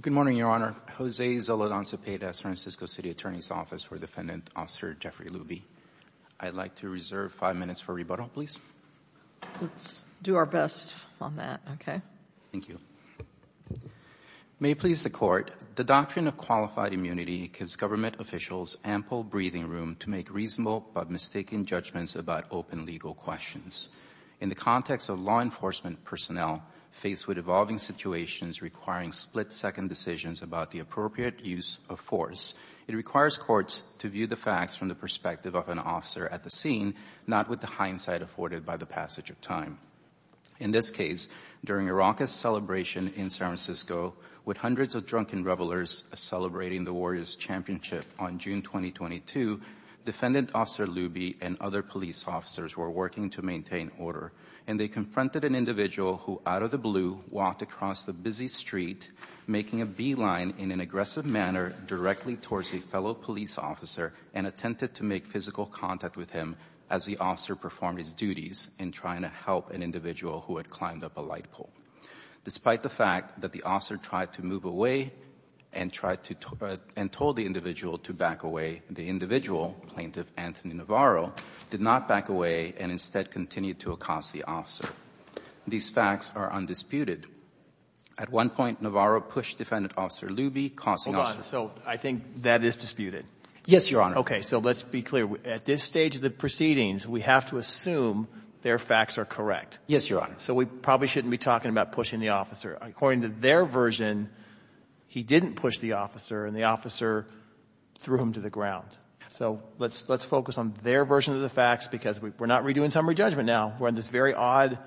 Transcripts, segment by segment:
Good morning, Your Honor. Jose Zoledon Cepeda, San Francisco City Attorney's Office for Defendant Officer Jeffrey Luby. I'd like to reserve five minutes for rebuttal, please. Let's do our best on that, okay? Thank you. May it please the Court. The doctrine of qualified immunity gives government officials ample breathing room to make reasonable but mistaken judgments about open legal questions. In the context of law enforcement personnel faced with evolving situations requiring split-second decisions about the appropriate use of force, it requires courts to view the facts from the perspective of an officer at the scene, not with the hindsight afforded by the passage of time. In this case, during a raucous celebration in San Francisco with hundreds of drunken revelers celebrating the Warriors' championship on June 2022, Defendant Officer Luby and other police officers were working to maintain order, and they confronted an individual who, out of the blue, walked across the busy street, making a beeline in an aggressive manner directly towards a fellow police officer and attempted to make physical contact with him as the officer performed his duties in trying to help an individual who had climbed up a light pole. Despite the fact that the officer tried to move away and tried to — and told the individual to back away, the individual, Plaintiff Anthony Navarro, did not back away and instead continued to accost the officer. These facts are undisputed. At one point, Navarro pushed Defendant Officer Luby, causing — Hold on. So I think that is disputed. Yes, Your Honor. Okay. So let's be clear. At this stage of the proceedings, we have to assume their facts are correct. Yes, Your Honor. So we probably shouldn't be talking about pushing the officer. According to their version, he didn't push the officer, and the officer threw him to the ground. So let's focus on their version of the facts because we're not redoing summary judgment now. We're on this very odd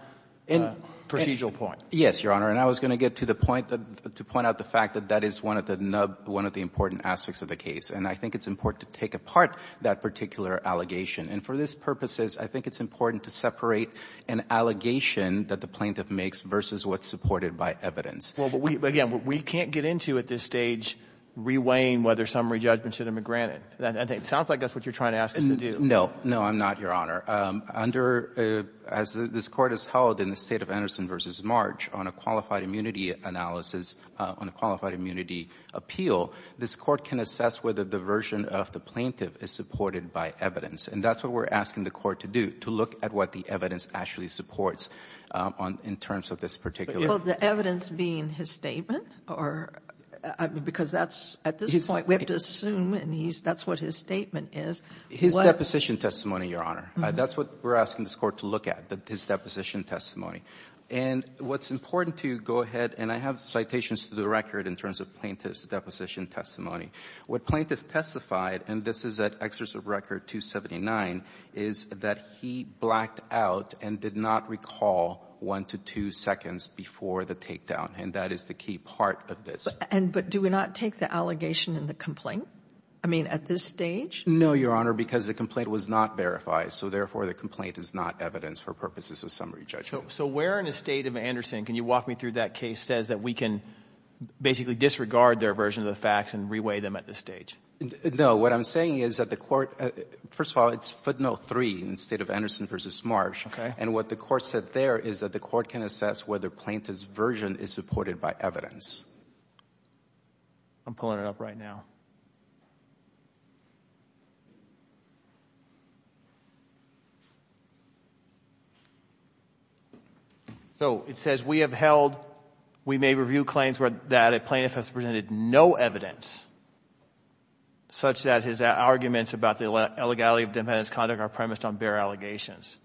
procedural point. Yes, Your Honor. And I was going to get to the point — to point out the fact that that is one of the important aspects of the case. And I think it's important to take apart that particular allegation. And for these purposes, I think it's important to separate an allegation that the plaintiff makes versus what's supported by evidence. Well, but we — again, we can't get into at this stage reweighing whether summary judgment should have been granted. It sounds like that's what you're trying to ask us to do. No. No, I'm not, Your Honor. Under — as this Court has held in the State of Anderson v. March on a qualified immunity analysis, on a qualified immunity appeal, this Court can assess whether the version of the plaintiff is supported by evidence. And that's what we're asking the Court to do, to look at what the evidence actually supports on — in terms of this particular — Well, the evidence being his statement or — because that's — at this point, we have to assume and he's — that's what his statement is. His deposition testimony, Your Honor. That's what we're asking this Court to look at, his deposition testimony. And what's important to go ahead — and I have citations to the record in terms of plaintiff's deposition testimony. What plaintiff testified, and this is at exercise of record 279, is that he blacked out and did not recall one to two seconds before the takedown. And that is the key part of this. And — but do we not take the allegation in the complaint? I mean, at this stage? No, Your Honor, because the complaint was not verified. So therefore, the complaint is not evidence for purposes of summary judgment. So where in the State of Anderson, can you walk me through that case, says that we can basically disregard their version of the facts and reweigh them at this stage? What I'm saying is that the Court — first of all, it's footnote 3 in the State of Anderson v. Marsh. Okay. And what the Court said there is that the Court can assess whether plaintiff's version is supported by evidence. I'm pulling it up right now. So it says, we have held, we may review claims that a plaintiff has presented no evidence, such that his arguments about the illegality of defendant's conduct are premised on bare allegations.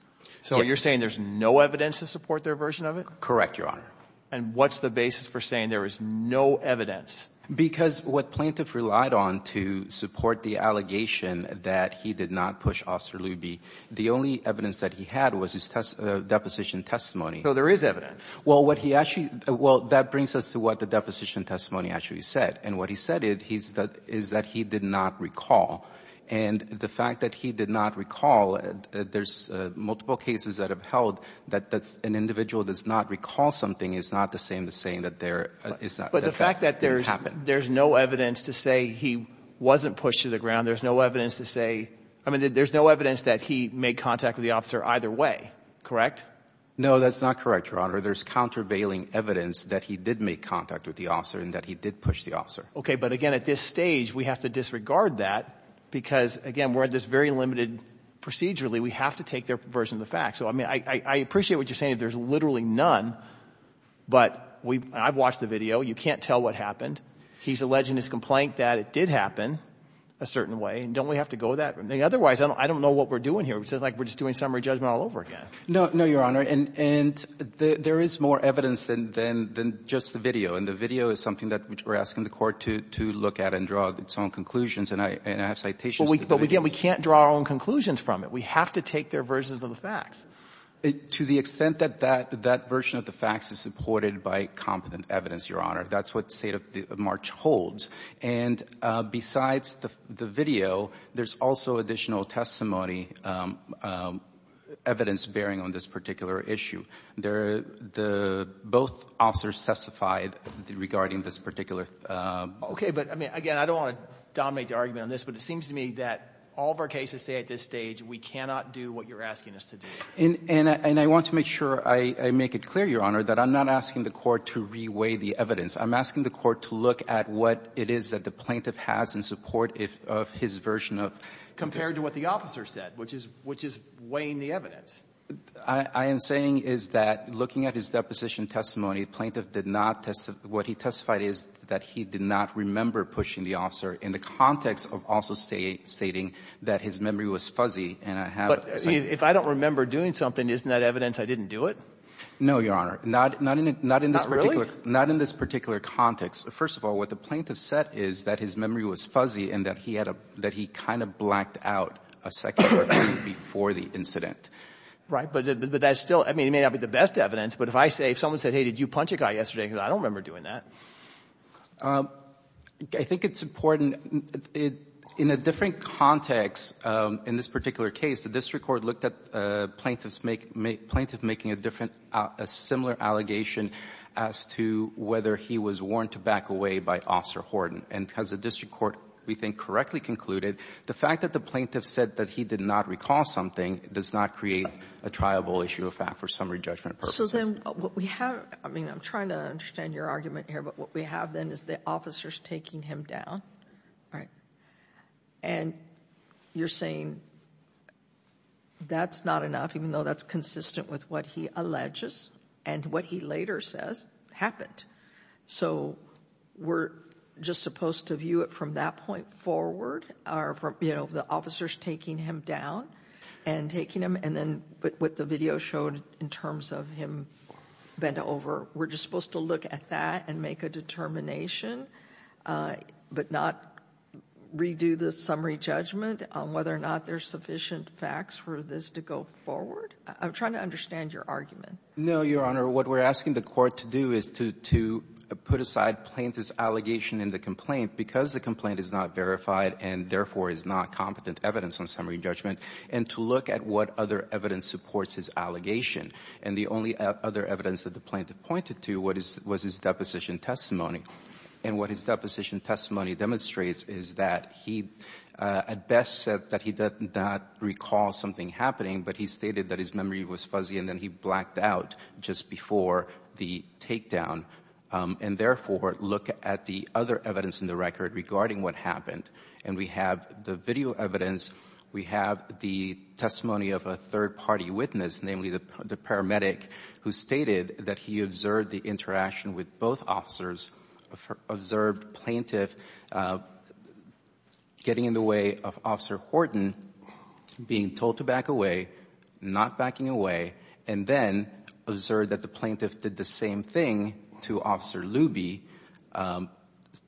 So you're saying there's no evidence to support their version of it? Correct, Your Honor. And what's the basis for saying there is no evidence? Because what plaintiff relied on to support the allegation that he did not push Officer Luby, the only evidence that he had was his deposition testimony. So there is evidence. Well, what he actually — well, that brings us to what the deposition testimony actually said. And what he said is that he did not recall. And the fact that he did not recall, there's multiple cases that have held that an individual does not recall something is not the same as saying that there is not. But the fact that there's no evidence to say he wasn't pushed to the ground, there's no evidence to say — I mean, there's no evidence that he made contact with the officer either way, correct? No, that's not correct, Your Honor. There's countervailing evidence that he did make contact with the officer and that he did push the officer. Okay. But again, at this stage, we have to disregard that because, again, we're at this very limited — procedurally, we have to take their version of the facts. So, I mean, I appreciate what you're saying. There's literally none. But we — I've watched the video. You can't tell what happened. He's alleging his complaint that it did happen a certain way. And don't we have to go that way? Otherwise, I don't know what we're doing here. It's like we're just doing summary judgment all over again. No, Your Honor. And there is more evidence than just the video. And the video is something that we're asking the Court to look at and draw its own conclusions. And I have citations. But again, we can't draw our own conclusions from it. We have to take their versions of the facts. To the extent that that version of the facts is supported by competent evidence, Your Honor, that's what the State of March holds. And besides the video, there's also additional testimony, evidence bearing on this particular issue. Both officers testified regarding this particular — Okay. But, I mean, again, I don't want to dominate the argument on this. But it seems to me that all of our cases say at this stage we cannot do what you're asking us to do. And I want to make sure I make it clear, Your Honor, that I'm not asking the Court to reweigh the evidence. I'm asking the Court to look at what it is that the plaintiff has in support of his version of — Compared to what the officer said, which is — which is weighing the evidence. I am saying is that looking at his deposition testimony, the plaintiff did not — what he testified is that he did not remember pushing the officer in the context of also stating that his memory was fuzzy. And I have — But if I don't remember doing something, isn't that evidence I didn't do it? No, Your Honor. Not — not in this particular — Not in this particular context. First of all, what the plaintiff said is that his memory was fuzzy and that he had a — that he kind of blacked out a second or two before the incident. Right. But that's still — I mean, it may not be the best evidence, but if I say — if someone said, hey, did you punch a guy yesterday, I don't remember doing that. I think it's important. It — in a different context, in this particular case, the district court looked at a plaintiff's — plaintiff making a different — a similar allegation as to whether he was warned to back away by Officer Horton. And as the district court, we think, correctly concluded, the fact that the plaintiff said that he did not recall something does not create a triable issue of fact for summary judgment purposes. So, then, what we have — I mean, I'm trying to understand your argument here, but what we have, then, is the officers taking him down. Right. And you're saying that's not enough, even though that's consistent with what he alleges and what he later says happened. So we're just supposed to view it from that point forward, or from, you know, the officers taking him down and taking him, and then what the video showed in terms of him bent over. We're just supposed to look at that and make a determination but not redo the summary judgment on whether or not there's sufficient facts for this to go forward? I'm trying to understand your argument. No, Your Honor. What we're asking the Court to do is to — to put aside plaintiff's allegation and the complaint, because the complaint is not verified and, therefore, is not competent evidence on summary judgment, and to look at what other evidence supports his allegation. And the only other evidence that the plaintiff pointed to was his deposition testimony. And what his deposition testimony demonstrates is that he, at best, said that he did not recall something happening, but he stated that his memory was fuzzy and then he blacked out just before the takedown. And, therefore, look at the other evidence in the record regarding what happened. And we have the video evidence. We have the testimony of a third-party witness, namely the paramedic, who stated that he observed the interaction with both officers, observed plaintiff getting in the way of Officer Horton, being told to back away, not backing away, and then observed that the plaintiff did the same thing to Officer Luby,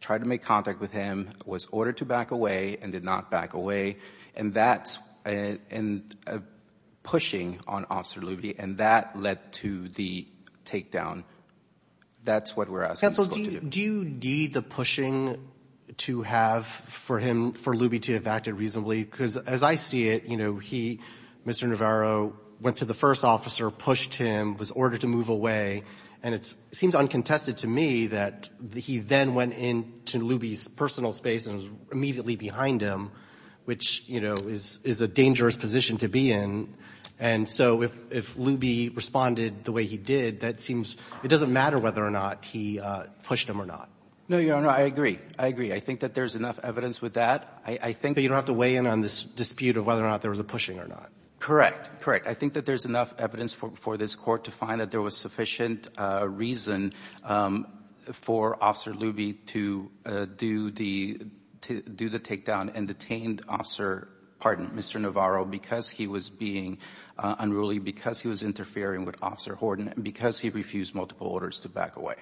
tried to make contact with him, was ordered to back away, and did not back away. And that's a pushing on Officer Luby, and that led to the takedown. That's what we're asking the Court to do. Do you need the pushing to have for him, for Luby to have acted reasonably? Because as I see it, you know, he, Mr. Navarro, went to the first officer, pushed him, was ordered to move away. And it seems uncontested to me that he then went into Luby's personal space and was immediately behind him, which, you know, is a dangerous position to be in. And so if Luby responded the way he did, that seems it doesn't matter whether or not he pushed him or not. No, Your Honor, I agree. I agree. I think that there's enough evidence with that. I think that you don't have to weigh in on this dispute of whether or not there was a pushing or not. Correct. Correct. I think that there's enough evidence for this Court to find that there was sufficient reason for Officer Luby to do the takedown and detained Officer, pardon, Mr. Navarro because he was being unruly, because he was interfering with Officer Horton, and because he refused multiple orders to back away.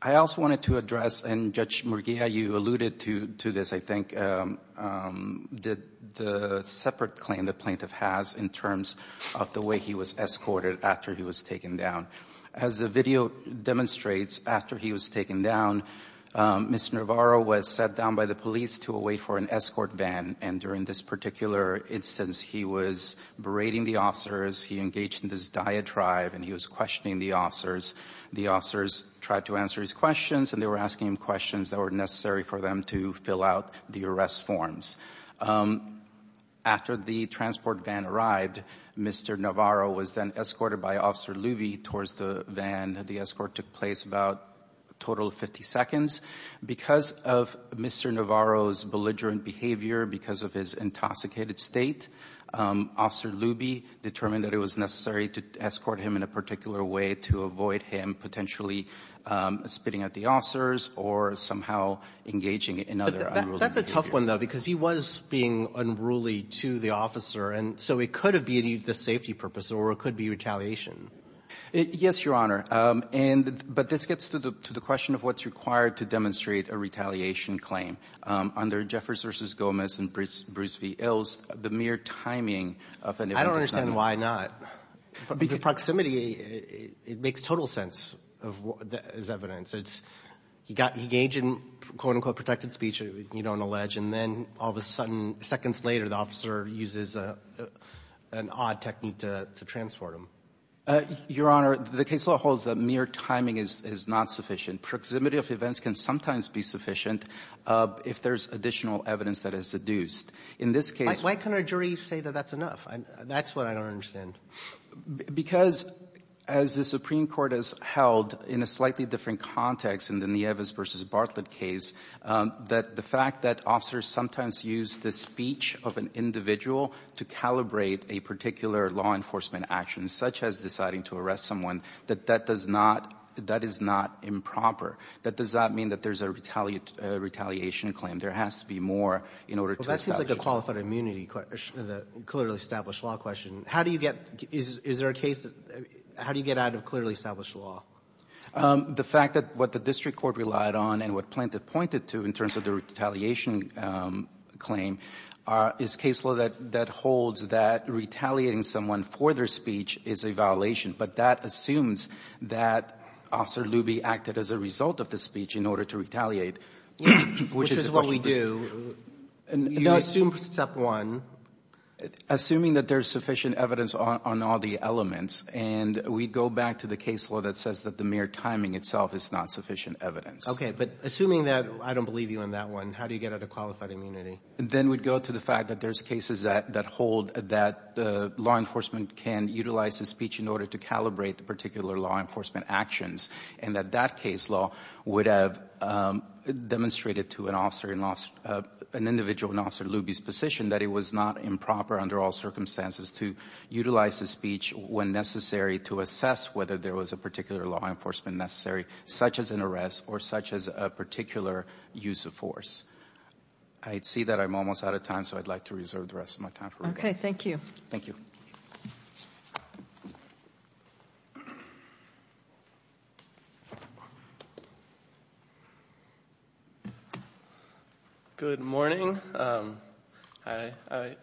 I also wanted to address, and Judge Murguia, you alluded to this, I think, the separate claim the plaintiff has in terms of the way he was escorted after he was taken down. As the video demonstrates, after he was taken down, Mr. Navarro was sat down by the police to wait for an escort van. And during this particular instance, he was berating the officers, he engaged in this diatribe, and he was questioning the officers. The officers tried to answer his questions, and they were asking him questions that were necessary for them to fill out the arrest forms. After the transport van arrived, Mr. Navarro was then escorted by Officer Luby towards the van. The escort took place about a total of 50 seconds. Because of Mr. Navarro's belligerent behavior, because of his intoxicated state, Officer Luby determined that it was necessary to escort him in a particular way to avoid him potentially spitting at the officers or somehow engaging in other unruly behavior. But that's a tough one, though, because he was being unruly to the officer, and so it could have been the safety purpose, or it could be retaliation. Yes, Your Honor. And but this gets to the question of what's required to demonstrate a retaliation claim. Under Jeffers v. Gomez and Bruce v. Ilse, the mere timing of an event is not enough. I don't understand why not. Because proximity, it makes total sense as evidence. It's he got engaged in, quote, unquote, protected speech, you don't allege, and then all of a sudden, seconds later, the officer uses an odd technique to transport him. Your Honor, the case law holds that mere timing is not sufficient. Proximity of events can sometimes be sufficient if there's additional evidence that is seduced. In this case --" Why can't a jury say that that's enough? That's what I don't understand. Because as the Supreme Court has held in a slightly different context in the Nieves v. Bartlett case, that the fact that officers sometimes use the speech of an individual to calibrate a particular law enforcement action, such as deciding to arrest someone, that that does not – that is not improper. That does not mean that there's a retaliation claim. There has to be more in order to establish it. Well, that seems like a qualified immunity question, the clearly established law question. How do you get – is there a case that – how do you get out of clearly established law? The fact that what the district court relied on and what Plante pointed to in terms of the retaliation claim is case law that holds that retaliating someone for their speech is a violation, but that assumes that Officer Luby acted as a result of the speech in order to retaliate, which is the question. Which is what we do. You assume step one. Assuming that there's sufficient evidence on all the elements, and we go back to the case law that says that the mere timing itself is not sufficient evidence. Okay. But assuming that – I don't believe you on that one. How do you get out of qualified immunity? Then we'd go to the fact that there's cases that hold that law enforcement can utilize the speech in order to calibrate the particular law enforcement actions, and that that case law would have demonstrated to an officer – an individual in Officer Luby's position that it was not improper under all circumstances to utilize the speech when necessary to assess whether there was a particular law enforcement action, such as a particular use of force. I see that I'm almost out of time, so I'd like to reserve the rest of my time. Okay. Thank you. Thank you. Good morning. I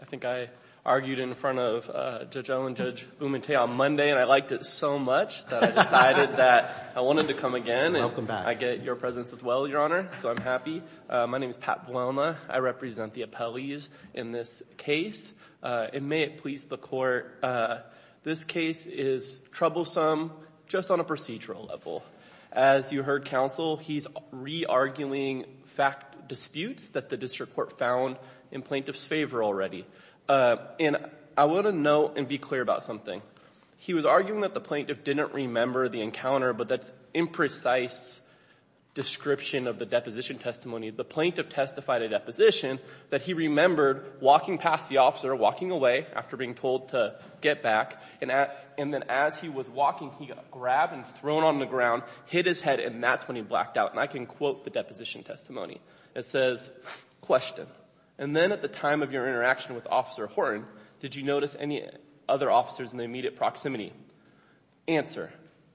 think I argued in front of Judge Owen, Judge Umente on Monday, and I liked it so much that I decided that I wanted to come again. Welcome back. I get your presence as well, Your Honor, so I'm happy. My name is Pat Buolna. I represent the appellees in this case. And may it please the Court, this case is troublesome just on a procedural level. As you heard counsel, he's re-arguing fact disputes that the district court found in plaintiff's favor already. And I want to note and be clear about something. He was arguing that the plaintiff didn't remember the encounter, but that's imprecise description of the deposition testimony. The plaintiff testified a deposition that he remembered walking past the officer, walking away after being told to get back. And then as he was walking, he got grabbed and thrown on the ground, hit his head, and that's when he blacked out. And I can quote the deposition testimony. It says, question, and then at the time of your interaction with Officer Horne, did you notice any other officers in the immediate proximity? Answer,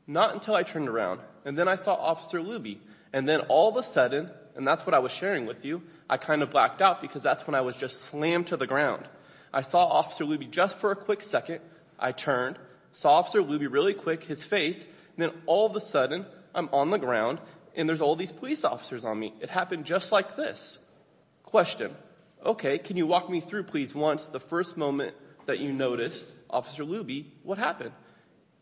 not until I turned around. And then I saw Officer Luby. And then all of a sudden, and that's what I was sharing with you, I kind of blacked out because that's when I was just slammed to the ground. I saw Officer Luby just for a quick second. I turned, saw Officer Luby really quick, his face, and then all of a sudden I'm on the ground and there's all these police officers on me. It happened just like this. Question. Okay. Can you walk me through, please, once the first moment that you noticed Officer Luby, what happened?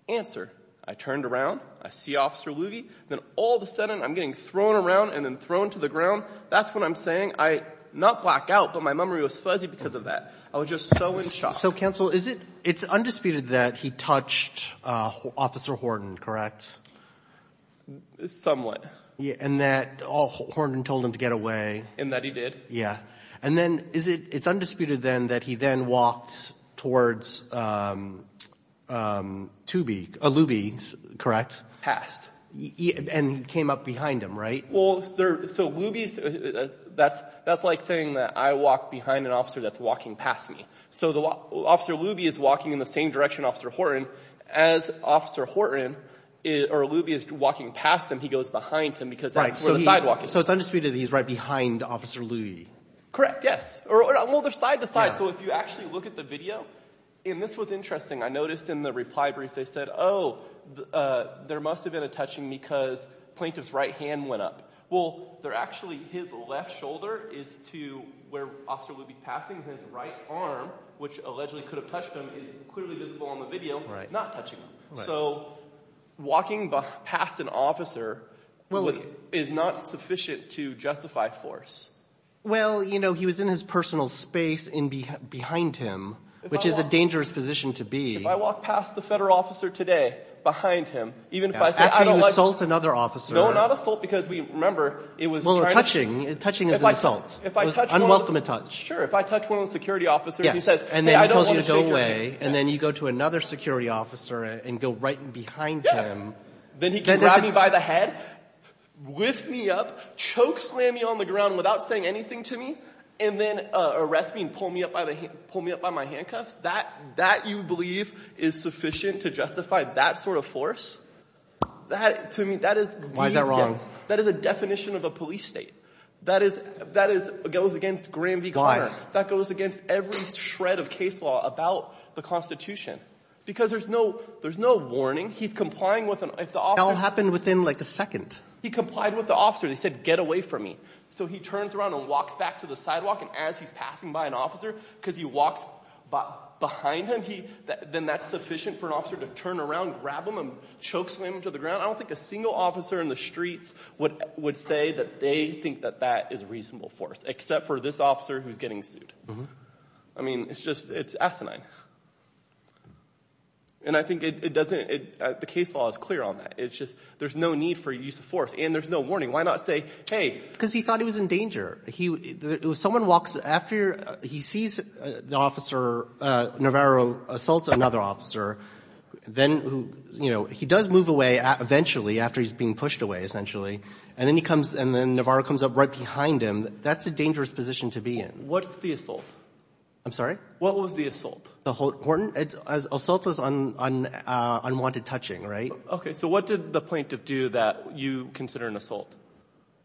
Answer. I turned around. I see Officer Luby. Then all of a sudden I'm getting thrown around and then thrown to the ground. That's when I'm saying I not blacked out, but my memory was fuzzy because of that. I was just so in shock. So, counsel, is it undisputed that he touched Officer Horne, correct? Somewhat. And that Horne told him to get away. And that he did. And then is it, it's undisputed then that he then walked towards Tubi, Luby, correct? Past. And he came up behind him, right? Well, so Luby's, that's like saying that I walk behind an officer that's walking past me. So Officer Luby is walking in the same direction, Officer Horne, as Officer Horne or Luby is walking past him, he goes behind him because that's where the sidewalk is. So it's undisputed that he's right behind Officer Luby. Correct. Yes. Well, they're side to side. So if you actually look at the video, and this was interesting. I noticed in the reply brief they said, oh, there must have been a touching because plaintiff's right hand went up. Well, they're actually, his left shoulder is to where Officer Luby's passing. His right arm, which allegedly could have touched him, is clearly visible on the video, not touching him. So walking past an officer is not sufficient to justify force. Well, you know, he was in his personal space behind him, which is a dangerous position to be. If I walk past the federal officer today behind him, even if I say I don't like After you assault another officer. No, not assault because we remember it was trying to. Well, touching is an assault. It was unwelcome to touch. Sure, if I touch one of the security officers, he says, hey, I don't want to shake your hand. Okay, and then you go to another security officer and go right behind him. Then he can grab me by the head, lift me up, choke slam me on the ground without saying anything to me, and then arrest me and pull me up by my handcuffs. That, you believe, is sufficient to justify that sort of force? Why is that wrong? That is a definition of a police state. That goes against Graham v. Conner. Why? That goes against every shred of case law about the Constitution. Because there's no – there's no warning. He's complying with an – if the officer – It all happened within, like, a second. He complied with the officer. He said, get away from me. So he turns around and walks back to the sidewalk, and as he's passing by an officer because he walks behind him, he – then that's sufficient for an officer to turn around, grab him, and choke slam him to the ground? I don't think a single officer in the streets would say that they think that that is reasonable force, except for this officer who's getting sued. I mean, it's just – it's asinine. And I think it doesn't – the case law is clear on that. It's just there's no need for use of force, and there's no warning. Why not say, hey – Because he thought he was in danger. Someone walks – after he sees the officer, Navarro assaults another officer, then – you know, he does move away eventually after he's being pushed away, essentially, and then he comes – and then Navarro comes up right behind him. That's a dangerous position to be in. What's the assault? I'm sorry? What was the assault? Horton? Assault was on unwanted touching, right? Okay. So what did the plaintiff do that you consider an assault?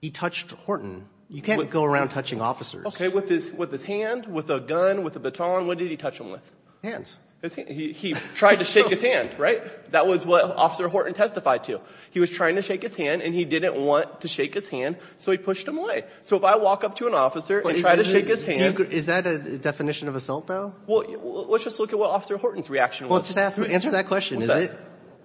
He touched Horton. You can't go around touching officers. Okay. With his hand, with a gun, with a baton, what did he touch him with? Hands. His – he tried to shake his hand, right? That was what Officer Horton testified to. He was trying to shake his hand, and he didn't want to shake his hand, so he pushed him away. So if I walk up to an officer and try to shake his hand – Is that a definition of assault, though? Well, let's just look at what Officer Horton's reaction was. Well, just answer that question, is it?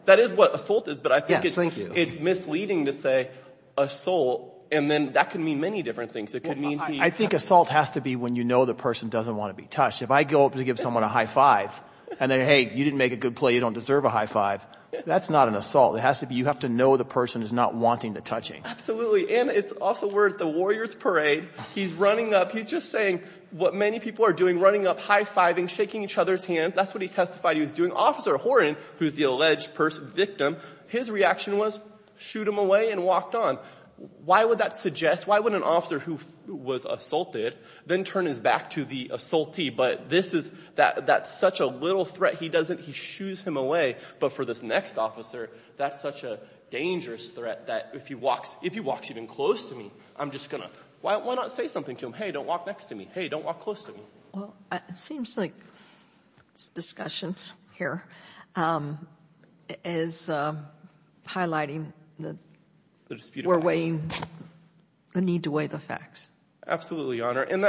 That is what assault is, but I think it's misleading to say assault, and then that could mean many different things. It could mean he – I think assault has to be when you know the person doesn't want to be touched. If I go up to give someone a high five and then, hey, you didn't make a good play, you don't deserve a high five, that's not an assault. It has to be – you have to know the person is not wanting the touching. Absolutely. And it's also worth the warrior's parade. He's running up. He's just saying what many people are doing, running up, high fiving, shaking each other's hands. That's what he testified he was doing. Officer Horton, who's the alleged victim, his reaction was shoot him away and walked on. Why would that suggest – why would an officer who was assaulted then turn his back to the assaultee? But this is – that's such a little threat. He doesn't – he shoos him away. But for this next officer, that's such a dangerous threat that if he walks – if he walks even close to me, I'm just going to – why not say something to him? Hey, don't walk next to me. Hey, don't walk close to me. Well, it seems like this discussion here is highlighting that we're weighing the need to weigh the facts. Absolutely, Your Honor. And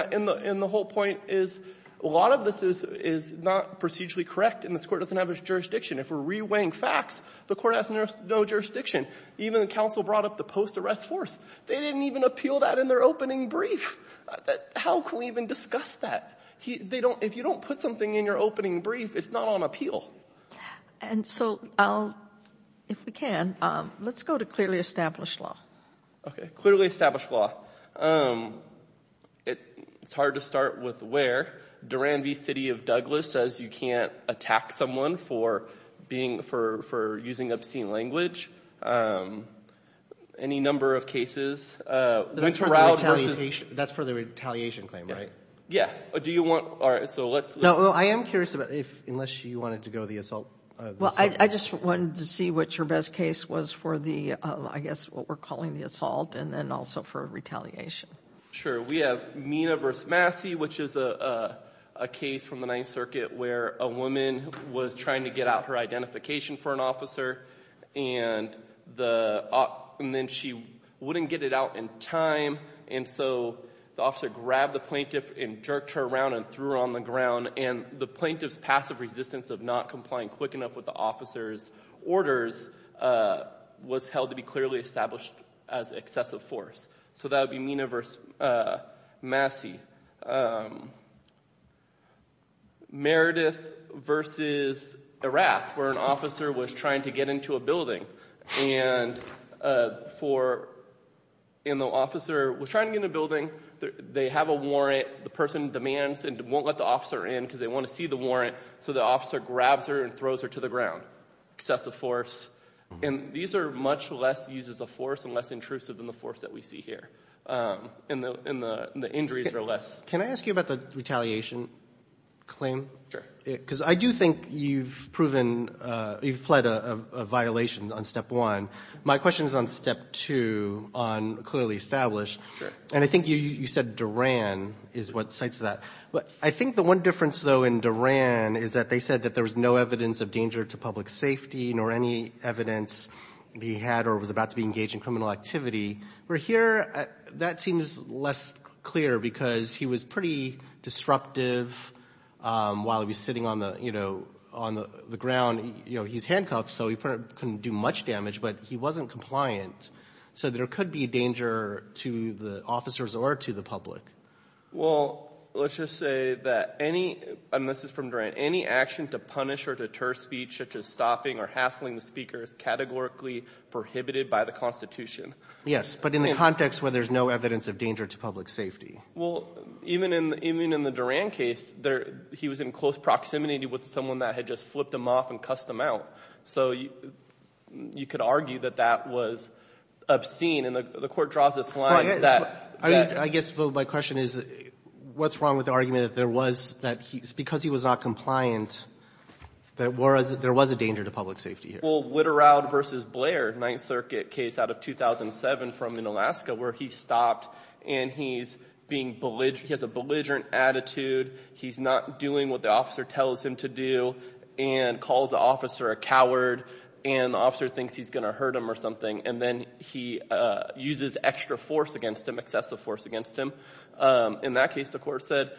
the whole point is a lot of this is not procedurally correct, and this Court doesn't have a jurisdiction. If we're re-weighing facts, the Court has no jurisdiction. Even the counsel brought up the post-arrest force. They didn't even appeal that in their opening brief. How can we even discuss that? They don't – if you don't put something in your opening brief, it's not on appeal. And so I'll – if we can, let's go to clearly established law. Okay. Clearly established law. It's hard to start with where. Duran v. City of Douglas says you can't attack someone for being – for using obscene language. Any number of cases. That's for the retaliation claim, right? Yeah. Do you want – all right, so let's – No, I am curious about if – unless you wanted to go the assault – Well, I just wanted to see what your best case was for the – I guess what we're calling the assault and then also for retaliation. Sure. We have Mina v. Massey, which is a case from the Ninth Circuit where a woman was trying to get out her identification for an officer, and the – and then she wouldn't get it out in time, and so the officer grabbed the plaintiff and jerked her around and threw her on the ground. And the plaintiff's passive resistance of not complying quick enough with the officer's orders was held to be clearly established as excessive force. So that would be Mina v. Massey. Meredith v. Erath, where an officer was trying to get into a building and for – and the officer was trying to get in the building. They have a warrant. The person demands and won't let the officer in because they want to see the warrant. So the officer grabs her and throws her to the ground, excessive force. And these are much less used as a force and less intrusive than the force that we see here, and the injuries are less. Can I ask you about the retaliation claim? Sure. Because I do think you've proven – you've fled a violation on step one. My question is on step two on clearly established. And I think you said Duran is what cites that. But I think the one difference, though, in Duran is that they said that there was no evidence of danger to public safety, nor any evidence he had or was about to be engaged in criminal activity. Where here, that seems less clear because he was pretty disruptive while he was sitting on the ground. He's handcuffed, so he couldn't do much damage, but he wasn't compliant. So there could be danger to the officers or to the public. Well, let's just say that any – and this is from Duran. Any action to punish or deter speech such as stopping or hassling the speaker is categorically prohibited by the Constitution. Yes, but in the context where there's no evidence of danger to public safety. Well, even in the Duran case, he was in close proximity with someone that had just flipped him off and cussed him out. So you could argue that that was obscene, and the court draws this line that – I guess, though, my question is what's wrong with the argument that there was – that because he was not compliant, there was a danger to public safety here? Well, Witterowd v. Blair, Ninth Circuit case out of 2007 from in Alaska where he stopped and he's being – he has a belligerent attitude. He's not doing what the officer tells him to do and calls the officer a coward and the officer thinks he's going to hurt him or something, and then he uses extra force against him, excessive force against him. In that case, the court said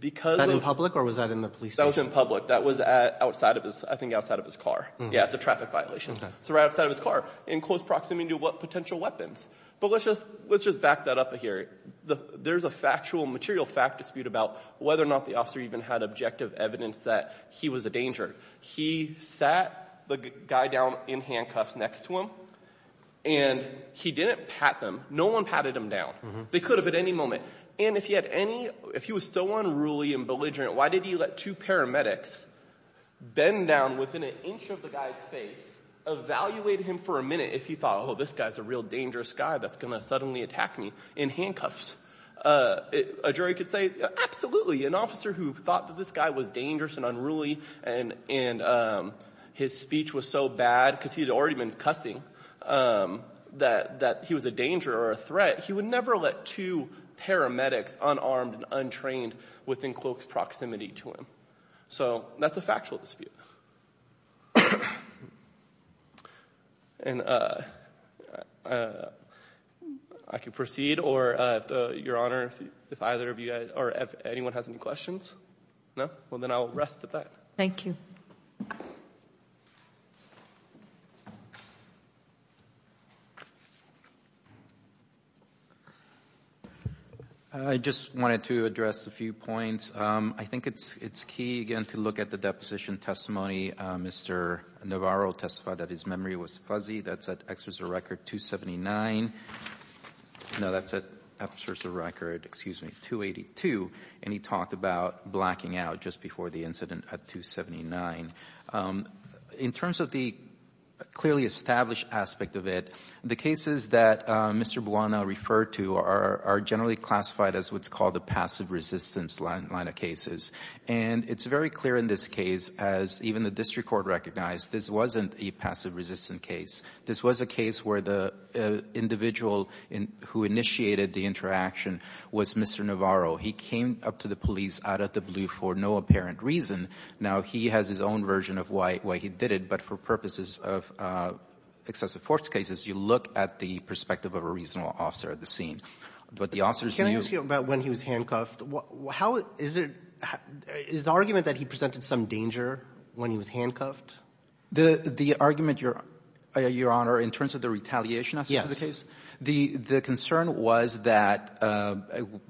because of – That in public or was that in the police station? That was in public. That was outside of his – I think outside of his car. Yes, it's a traffic violation. So right outside of his car in close proximity to potential weapons. But let's just back that up here. There's a factual, material fact dispute about whether or not the officer even had objective evidence that he was a danger. He sat the guy down in handcuffs next to him, and he didn't pat them. No one patted him down. They could have at any moment. And if he had any – if he was so unruly and belligerent, why did he let two paramedics bend down within an inch of the guy's face, evaluate him for a minute if he thought, oh, this guy's a real dangerous guy that's going to suddenly attack me, in handcuffs? A jury could say, absolutely. An officer who thought that this guy was dangerous and unruly and his speech was so bad because he had already been cussing that he was a danger or a threat, he would never let two paramedics unarmed and untrained within close proximity to him. So that's a factual dispute. And I can proceed, or, Your Honor, if either of you – or if anyone has any questions? No? Well, then I will rest at that. Thank you. I just wanted to address a few points. I think it's key, again, to look at the deposition testimony. Mr. Navarro testified that his memory was fuzzy. That's at excerpts of record 279. No, that's at excerpts of record, excuse me, 282. And he talked about blacking out just before the incident at 279. In terms of the clearly established aspect of it, the cases that Mr. Buona referred to are generally classified as what's called a passive resistance line of cases. And it's very clear in this case, as even the district court recognized, this wasn't a passive resistance case. This was a case where the individual who initiated the interaction was Mr. Navarro. He came up to the police out of the blue for no apparent reason. Now, he has his own version of why he did it, but for purposes of excessive force cases, you look at the perspective of a reasonable officer at the scene. But the officers knew. Can I ask you about when he was handcuffed? How is it — is the argument that he presented some danger when he was handcuffed? The argument, Your Honor, in terms of the retaliation aspect of the case? The concern was that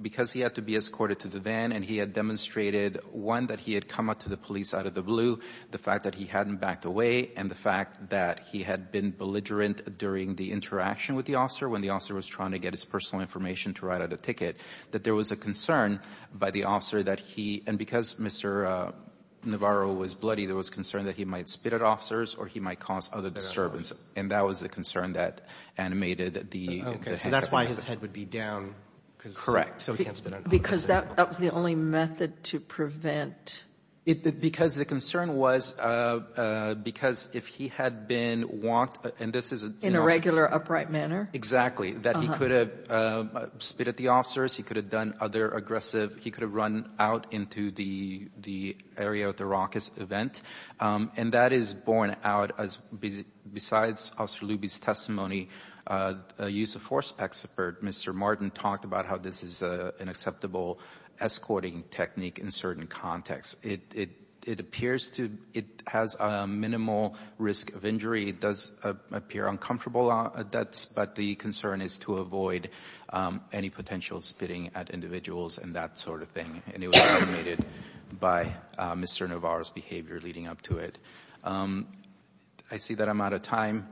because he had to be escorted to the van and he had demonstrated one, that he had come up to the police out of the blue, the fact that he hadn't backed away, and the fact that he had been belligerent during the interaction with the officer when the officer was trying to get his personal information to write out a ticket, that there was a concern by the officer that he — and because Mr. Navarro was bloody, there was concern that he might spit at officers or he might cause other disturbance. And that was the concern that animated the — Okay. So that's why his head would be down. Correct. So he can't spit at officers. Because that was the only method to prevent — Because the concern was because if he had been walked — and this is — In a regular, upright manner? Exactly. That he could have spit at the officers, he could have done other aggressive — he could have run out into the area at the raucous event. And that is borne out as — besides Officer Luby's testimony, a use of force expert, Mr. Martin, talked about how this is an acceptable escorting technique in certain contexts. It appears to — it has a minimal risk of injury. It does appear uncomfortable on adepts, but the concern is to avoid any potential spitting at individuals and that sort of thing. And it was animated by Mr. Navarro's behavior leading up to it. I see that I'm out of time.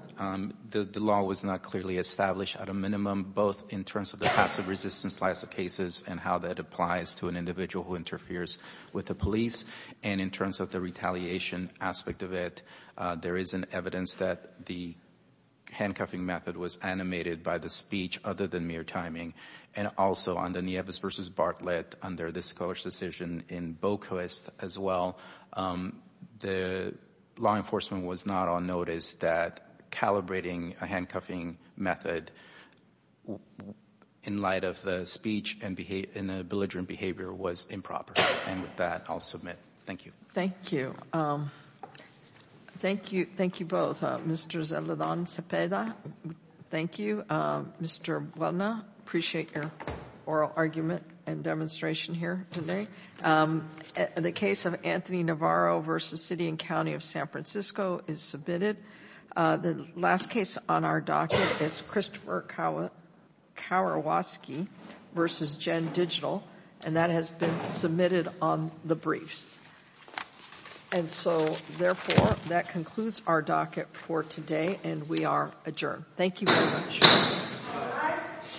The law was not clearly established at a minimum, both in terms of the passive resistance slice of cases and how that applies to an individual who interferes with the police, and in terms of the retaliation aspect of it. There is evidence that the handcuffing method was animated by the speech, other than mere timing. And also, on the Nieves v. Bartlett, under the Scholar's decision, in Bokoest as well, the law enforcement was not on notice that calibrating a handcuffing method in light of the speech and belligerent behavior was improper. And with that, I'll submit. Thank you. Thank you. Thank you both. Mr. Zeledon Cepeda, thank you. Mr. Buena, appreciate your oral argument and demonstration here today. The case of Anthony Navarro v. City and County of San Francisco is submitted. The last case on our docket is Christopher Kowarski v. Gen Digital, and that has been submitted on the briefs. And so, therefore, that concludes our docket for today, and we are adjourned. Thank you very much.